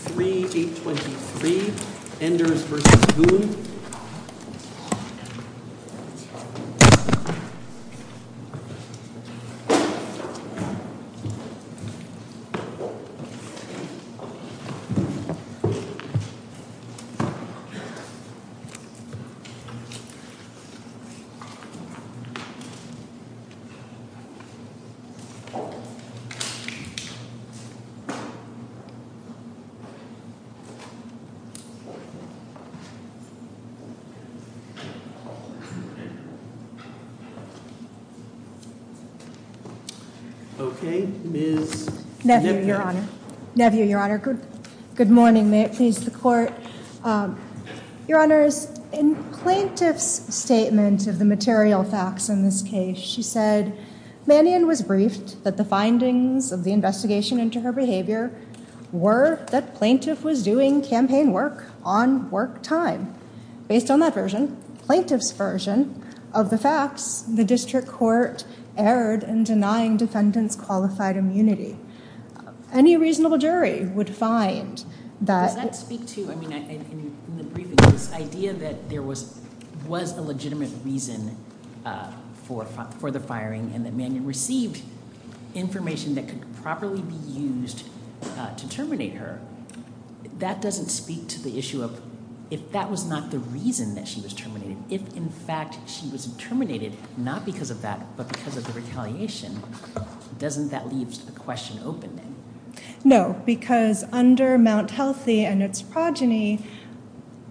Siano Enders v. Boone Okay, Ms. Nephew. Nephew, Your Honor. Good morning. May it please the Court. Your Honors, in Plaintiff's statement of the material facts in this case, she said, Mannion was briefed that the findings of the investigation into her behavior were that Plaintiff was doing campaign work on work time. Based on that version, Plaintiff's version of the facts, the District Court erred in denying defendants qualified immunity. Any reasonable jury would find that... Does that speak to, I mean, in the briefing, this idea that there was a legitimate reason for the firing and that Mannion received information that could properly be used to terminate her? That doesn't speak to the issue of if that was not the reason that she was terminated. If, in fact, she was terminated, not because of that, but because of the retaliation, doesn't that leave the question open then? No, because under Mount Healthy and its progeny,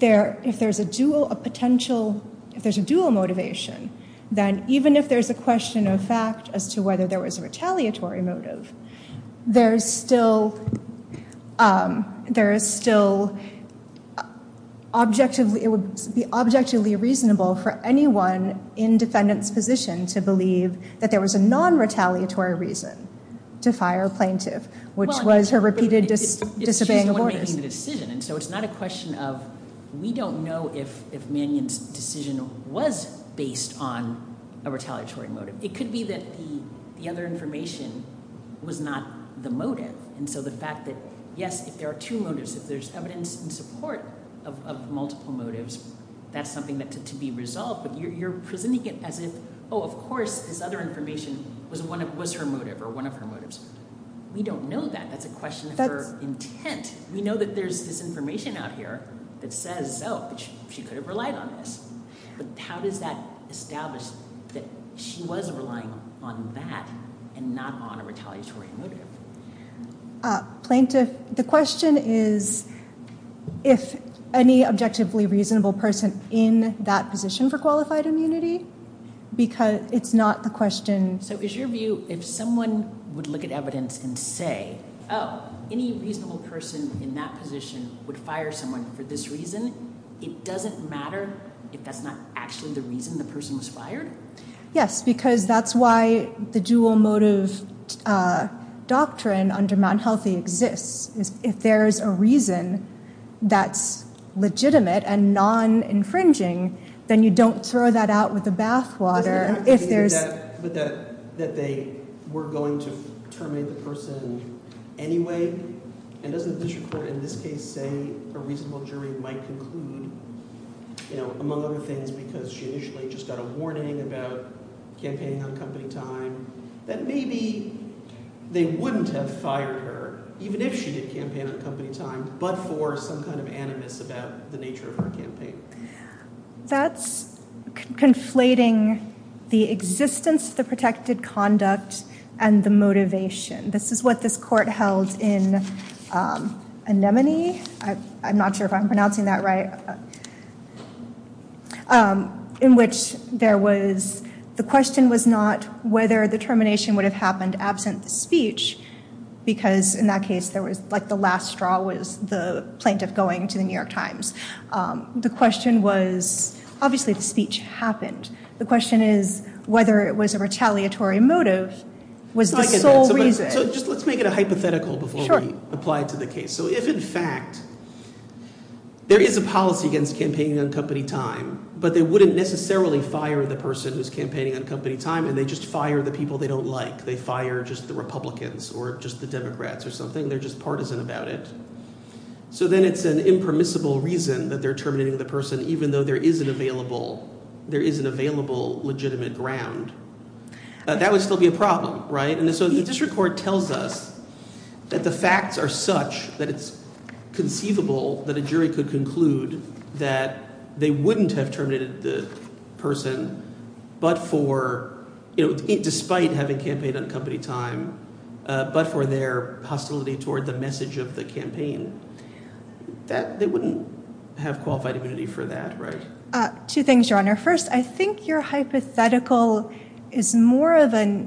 if there's a dual motivation, then even if there's a question of fact as to whether there was a retaliatory motive, there is still objectively reasonable for anyone in defendant's position to believe that there was a non-retaliatory reason to fire a plaintiff, which was her repeated disobeying of orders. We don't know if Mannion's decision was based on a retaliatory motive. It could be that the other information was not the motive, and so the fact that, yes, if there are two motives, if there's evidence in support of multiple motives, that's something to be resolved, but you're presenting it as if, oh, of course, this other information was her motive or one of her motives. We don't know that. That's a question of her intent. We know that there's this information out here that says, oh, she could have relied on this, but how does that establish that she was relying on that and not on a retaliatory motive? Plaintiff, the question is if any reasonable person in that position would fire someone for this reason. It doesn't matter if that's not actually the reason the person was fired? Yes, because that's why the dual motive doctrine under Mann Healthy exists. If there's a reason that's legitimate and non-infringing, then you don't throw that out with the bathwater. But that they were going to terminate the person anyway? And doesn't the district court in this case say a reasonable jury might conclude, among other things, because she initially just got a warning about campaigning on company time, that maybe they wouldn't have fired her, even if she did campaign on company time, but for some kind of animus about the nature of her campaign? That's conflating the existence, the protected conduct, and the motivation. This is what this court held in Anemone, I'm not sure if I'm pronouncing that right, in which there was the question was not whether the termination would have happened absent the speech, because in that case the last straw was the plaintiff going to the New York Times. The question was, obviously the speech happened. The question is whether it was a retaliatory motive was the sole reason. Let's make it a hypothetical before we apply it to the case. So if in fact there is a policy against campaigning on company time, but they wouldn't necessarily fire the person who's campaigning on company time, and they just fire the people they don't like. They fire just the Republicans or just the Democrats or something. They're just partisan about it. So then it's an impermissible reason that they're terminating the person, even though there is an available legitimate ground. That would still be a problem, right? And so the district court tells us that the facts are such that it's conceivable that a jury could fire a person, but for – despite having campaigned on company time, but for their hostility toward the message of the campaign. They wouldn't have qualified immunity for that, right? Two things, Your Honor. First, I think your hypothetical is more of a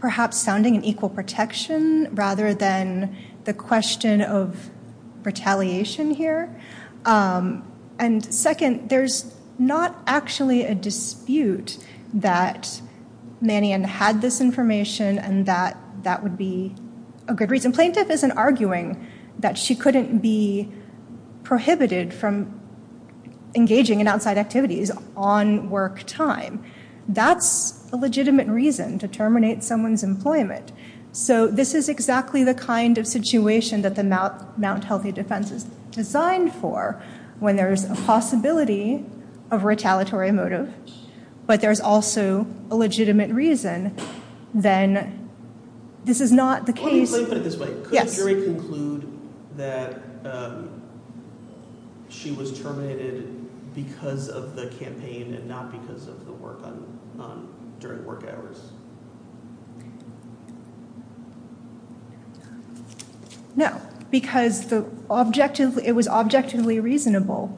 perhaps sounding an equal protection rather than the question of retaliation here. And second, there's not actually a dispute that Mannion had this information and that that would be a good reason. Plaintiff isn't arguing that she couldn't be prohibited from engaging in outside activities on work time. That's a legitimate reason to terminate someone's employment. So this is exactly the kind of situation that the Mount Healthy Defense is designed for when there's a possibility of retaliatory motive, but there's also a legitimate reason, then this is not the case. Could the jury conclude that she was terminated because of the campaign and not because of the work during work hours? No, because it was objectively reasonable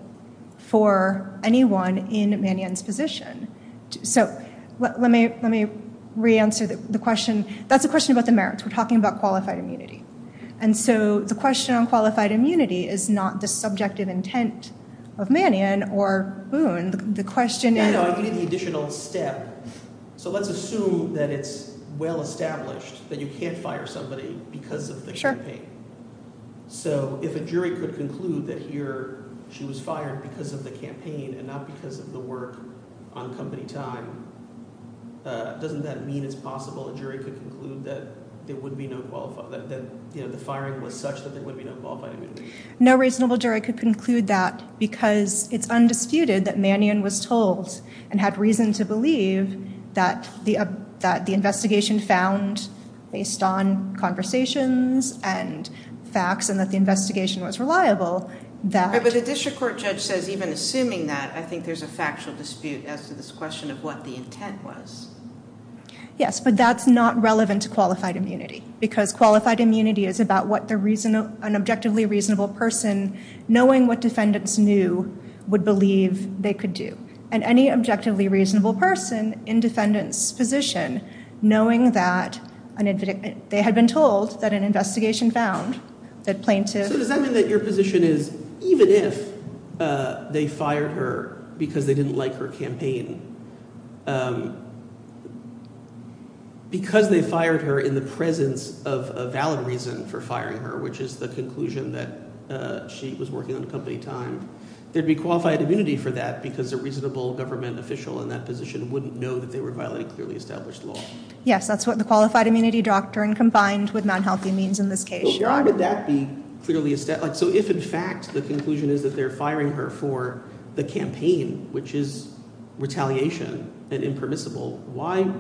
for anyone in Mannion's position. So let me re-answer the question. That's a question about the merits. We're talking about qualified immunity. And so the question on qualified immunity is not the subjective intent of Mannion or Boone. The question is – No, I need the additional step. So let's assume that it's well established that you can't fire somebody because of the campaign. So if a jury could conclude that here she was fired because of the campaign and not because of the work on company time, doesn't that mean it's possible a jury could conclude that there would be no qualified – that the firing was such that there would be no qualified immunity? No reasonable jury could conclude that because it's undisputed that Mannion was told and had reason to believe that the investigation found based on conversations and facts and that the investigation was reliable that – But the district court judge says even assuming that, I think there's a factual dispute as to this question of what the intent was. Yes, but that's not relevant to qualified immunity because qualified immunity is about what an objectively reasonable person knowing what defendants knew would believe they could do. And any objectively reasonable person in defendants position knowing that they had been told that an investigation found that plaintiffs – So does that mean that your position is even if they fired her because they didn't like her campaign because they fired her in the presence of a valid reason for firing her, which is the conclusion that she was working on company time, there'd be qualified immunity for that because a reasonable government official in that position wouldn't know that they were violating clearly established law. Yes, that's what the qualified immunity doctrine combined with non-healthy means in this case. But why would that be clearly – So if in fact the conclusion is that they're firing her for the campaign, which is retaliation and impermissible, why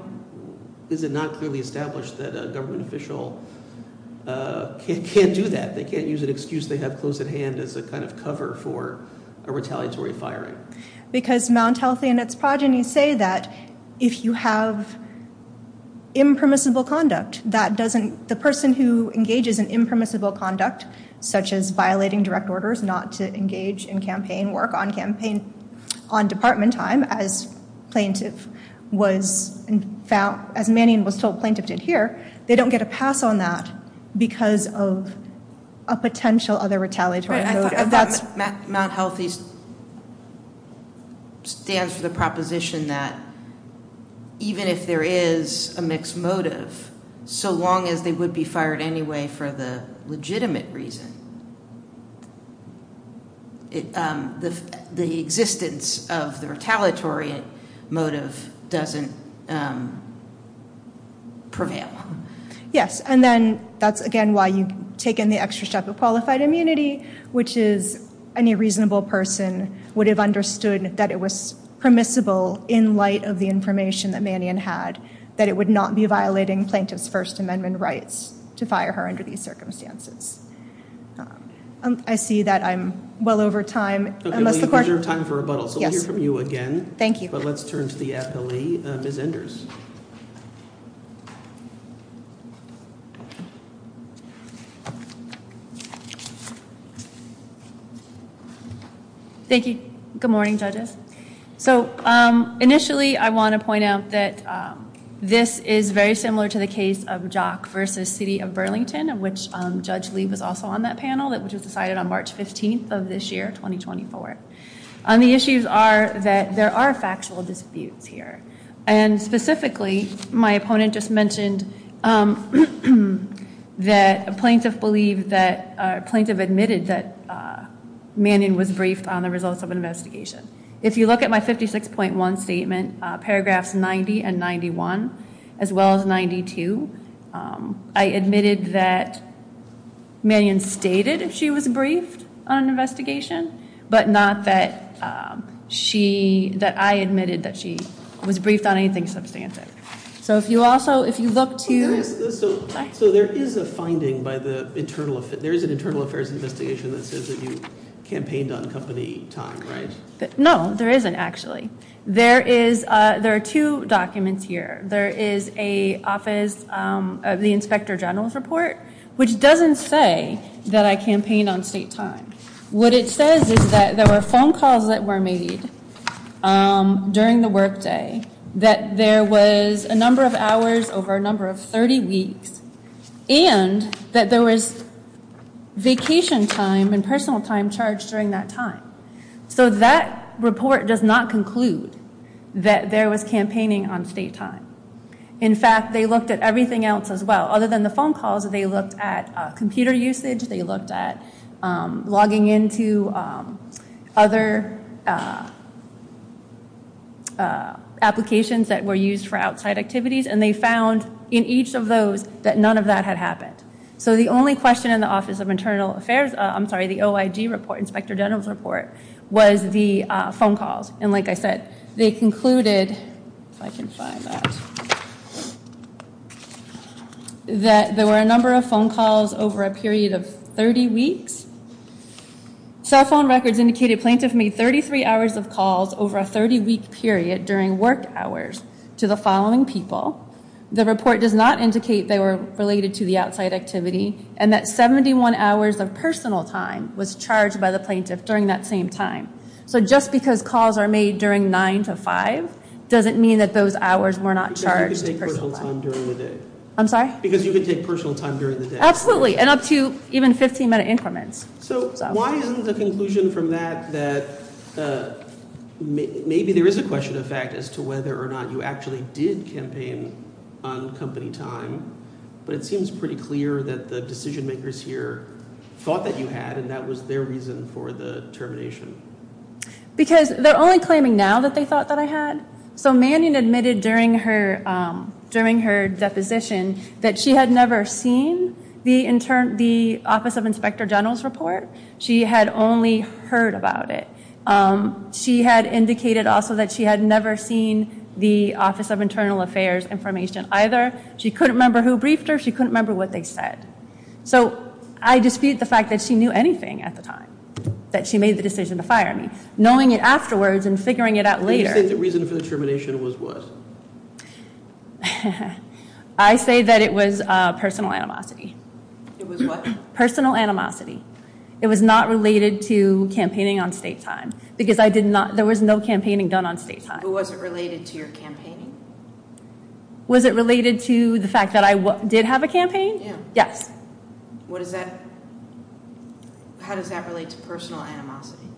is it not clearly established that a government official can't do that? They can't use an excuse they have close at hand as a kind of cover for a retaliatory firing? Because non-healthy in its progeny say that if you have impermissible conduct that doesn't – the person who engages in impermissible conduct, such as violating direct orders not to engage in campaign work on campaign – on department time as plaintiff was – as Mannion was told plaintiff did here, they don't get a pass on that because of a potential other retaliatory motive. That non-healthy stands for the proposition that even if there is a mixed motive, so long as they would be fired anyway for the legitimate reason, the existence of the retaliatory motive doesn't prevail. Yes, and then that's again why you've taken the extra step of qualified immunity, which is any reasonable person would have understood that it was permissible in light of the information that Mannion had, that it would not be violating plaintiff's First Amendment rights to fire her under these circumstances. I see that I'm well over time. We'll hear from you again. Thank you. But let's turn to the appellee, Ms. Enders. Thank you. Good morning, judges. So initially I want to point out that this is very similar to the case of Jock v. City of Burlington, of which Judge Lee was also on that panel, which was decided on March 15th of this year, 2024. The issues are that there are factual disputes here. And specifically, my opponent just mentioned that a plaintiff admitted that Mannion was briefed on the results of an investigation. If you look at my 56.1 statement, paragraphs 90 and 91, as well as 92, I admitted that Mannion stated she was briefed on an investigation, but not that I admitted that she was briefed on anything substantive. So if you also, if you look to... So there is a finding by the internal, there is an internal affairs investigation that says that you campaigned on company time, right? No, there isn't actually. There are two documents here. There is a office, the Inspector General's report, which doesn't say that I campaigned on state time. What it says is that there were phone calls that were made during the workday, that there was a number of hours over a number of 30 weeks, and that there was vacation time and personal time charged during that time. So that report does not conclude that there was campaigning on state time. In fact, they looked at everything else as well. Other than the phone calls, they looked at computer usage, they looked at logging into other applications that were used for outside activities, and they found in each of those that none of that had happened. So the only question in the Office of Internal Affairs, I'm sorry, the OIG report, Inspector General's report, was the phone calls. And like I said, they found that there were a number of phone calls over a period of 30 weeks. Cell phone records indicated plaintiff made 33 hours of calls over a 30 week period during work hours to the following people. The report does not indicate they were related to the outside activity, and that 71 hours of personal time was charged by the plaintiff during that same time. So just because calls are made during 9 to 5 doesn't mean that those hours were not charged to personal time. I'm sorry? Because you could take personal time during the day. Absolutely. And up to even 15 minute increments. So why isn't the conclusion from that that maybe there is a question of fact as to whether or not you actually did campaign on company time, but it seems pretty clear that the decision makers here thought that you had and that was their reason for the termination. Because they're only claiming now that they thought that I had. So Mannion admitted during her deposition that she had never seen the Office of Inspector General's report. She had only heard about it. She had indicated also that she had never seen the Office of Internal Affairs information either. She couldn't remember who briefed her. She couldn't remember what they said. So I dispute the fact that she knew anything at the time that she made the decision to fire me. Knowing it afterwards and figuring it out later. What did you say the reason for the termination was? I say that it was personal animosity. It was what? Personal animosity. It was not related to campaigning on state time. Because I did not, there was no campaigning done on state time. But was it related to your campaigning? Was it related to the fact that I did have a campaign? Yes. What does that, how does that relate to personal animosity?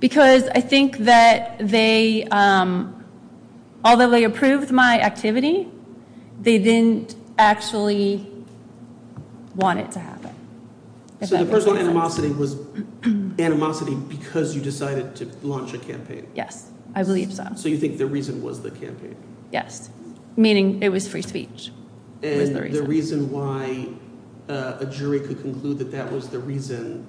Because I think that they, although they approved my activity, they didn't actually want it to happen. So the personal animosity was animosity because you decided to launch a campaign? Yes. I believe so. So you think the reason was the campaign? Yes. Meaning it was free speech. And the reason why a jury could conclude that that was the reason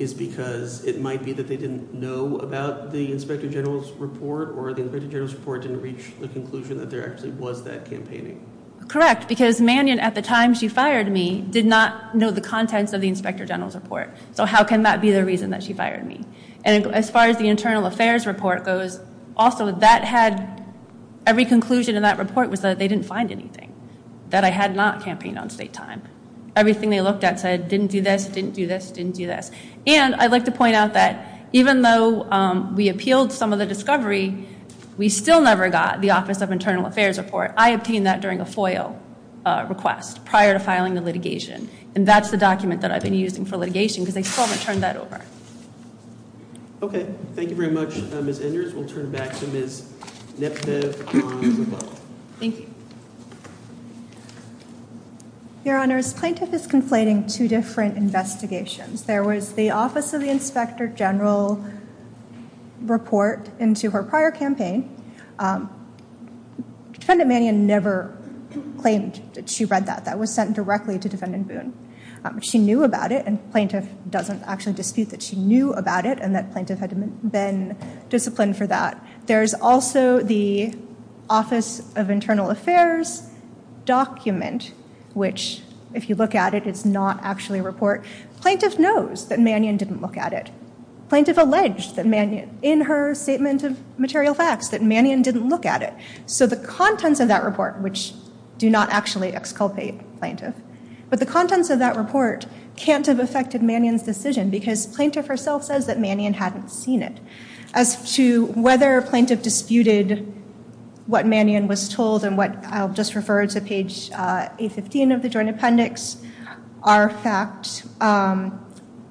is because it might be that they didn't know about the Inspector General's report or the Inspector General's report didn't reach the conclusion that there actually was that campaigning. Correct. Because Mannion at the time she fired me did not know the contents of the Inspector General's report. So how can that be the reason that she fired me? And as far as the Internal Affairs report goes, also that had, every conclusion in that report was that they didn't find anything. That I had not campaigned on state time. Everything they looked at said didn't do this, didn't do this, didn't do this. And I'd like to point out that even though we appealed some of the discovery, we still never got the Office of Internal Affairs report. I obtained that during a FOIA request prior to filing the litigation. And that's the document that I've been using for litigation because they still haven't turned that over. Okay. Thank you very much Ms. Enders. We'll turn it back to Ms. Neptiv on the phone. Thank you. Your Honors, plaintiff is conflating two different investigations. There was the Office of the Inspector General report into her prior campaign. Defendant Mannion never claimed that she read that. That was sent directly to Defendant Boone. She knew about it and plaintiff doesn't actually dispute that she knew about it and that plaintiff had been disciplined for that. There's also the Office of Internal Affairs document which, if you look at it, it's not actually a report. Plaintiff knows that Mannion didn't look at it. Plaintiff alleged in her statement of material facts that Mannion didn't look at it. So the contents of that report, which do not actually exculpate plaintiff, but the contents of that report can't have affected Mannion's decision because plaintiff herself says that Mannion hadn't seen it. As to whether plaintiff disputed what Mannion was told and what, I'll just refer to page 815 of the Joint Appendix. Our fact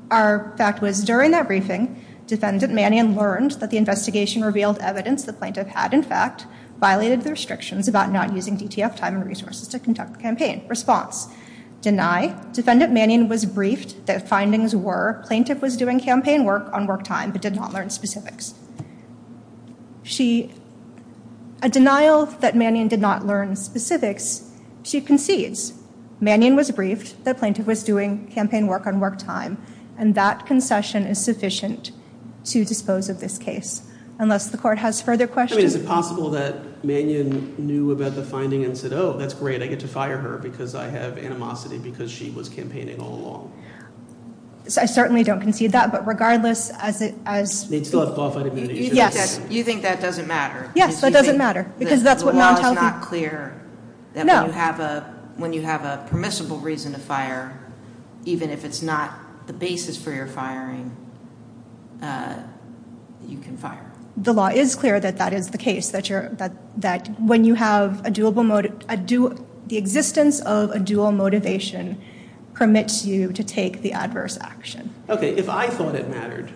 was during that briefing, Defendant Mannion learned that the investigation revealed evidence the plaintiff had, in fact, violated the restrictions about not using DTF time and resources to conduct campaign. Response, deny. Defendant Mannion was briefed that findings were that plaintiff was doing campaign work on work time but did not learn specifics. A denial that Mannion did not learn specifics, she concedes. Mannion was briefed that plaintiff was doing campaign work on work time and that concession is sufficient to dispose of this case. Unless the court has further questions. Is it possible that Mannion knew about the finding and said, oh, that's great, I get to fire her because I have animosity because she was campaigning all along? I certainly don't concede that, but regardless as... You think that doesn't matter? Yes, that doesn't matter. The law is not clear that when you have a permissible reason to fire, even if it's not the basis for your firing, you can fire. The law is clear that that is the resistance of a dual motivation permits you to take the adverse action. Okay, if I thought it mattered,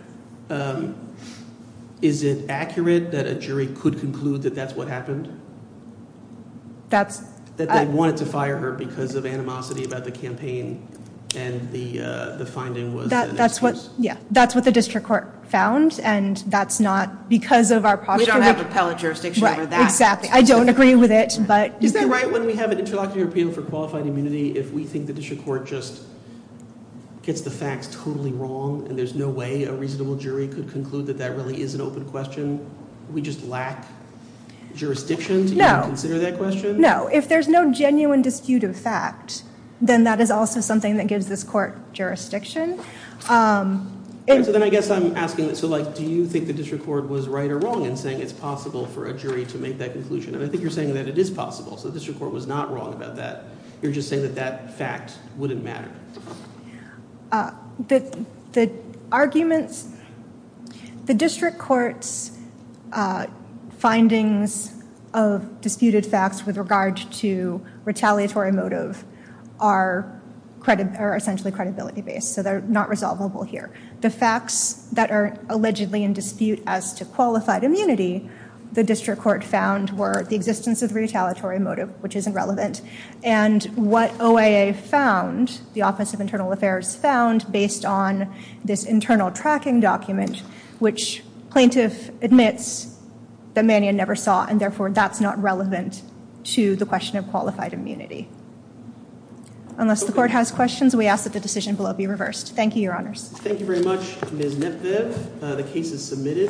is it accurate that a jury could conclude that that's what happened? That they wanted to fire her because of animosity about the campaign and the finding was... That's what the district court found and that's not because of our... I don't agree with it, but... Is that right when we have an interlocutor appeal for qualified immunity if we think the district court just gets the facts totally wrong and there's no way a reasonable jury could conclude that that really is an open question? Do we just lack jurisdiction to consider that question? No, if there's no genuine dispute of fact, then that is also something that gives this court jurisdiction. So then I guess I'm asking, do you think the district court was right or wrong in saying it's possible for a jury to make that conclusion? And I think you're saying that it is possible, so the district court was not wrong about that. You're just saying that that fact wouldn't matter. The arguments... The district court's findings of disputed facts with regard to retaliatory motive are essentially credibility-based, so they're not resolvable here. The facts that are allegedly in dispute as to qualified immunity, the district court found were the existence of retaliatory motive, which isn't relevant, and what OIA found, the Office of Internal Affairs found, based on this internal tracking document, which plaintiff admits that Mannion never saw, and therefore that's not relevant to the question of qualified immunity. Unless the court has questions, we ask that the decision below be reversed. Thank you, Your Honors. Thank you very much, Ms. Nepvev. The case is submitted.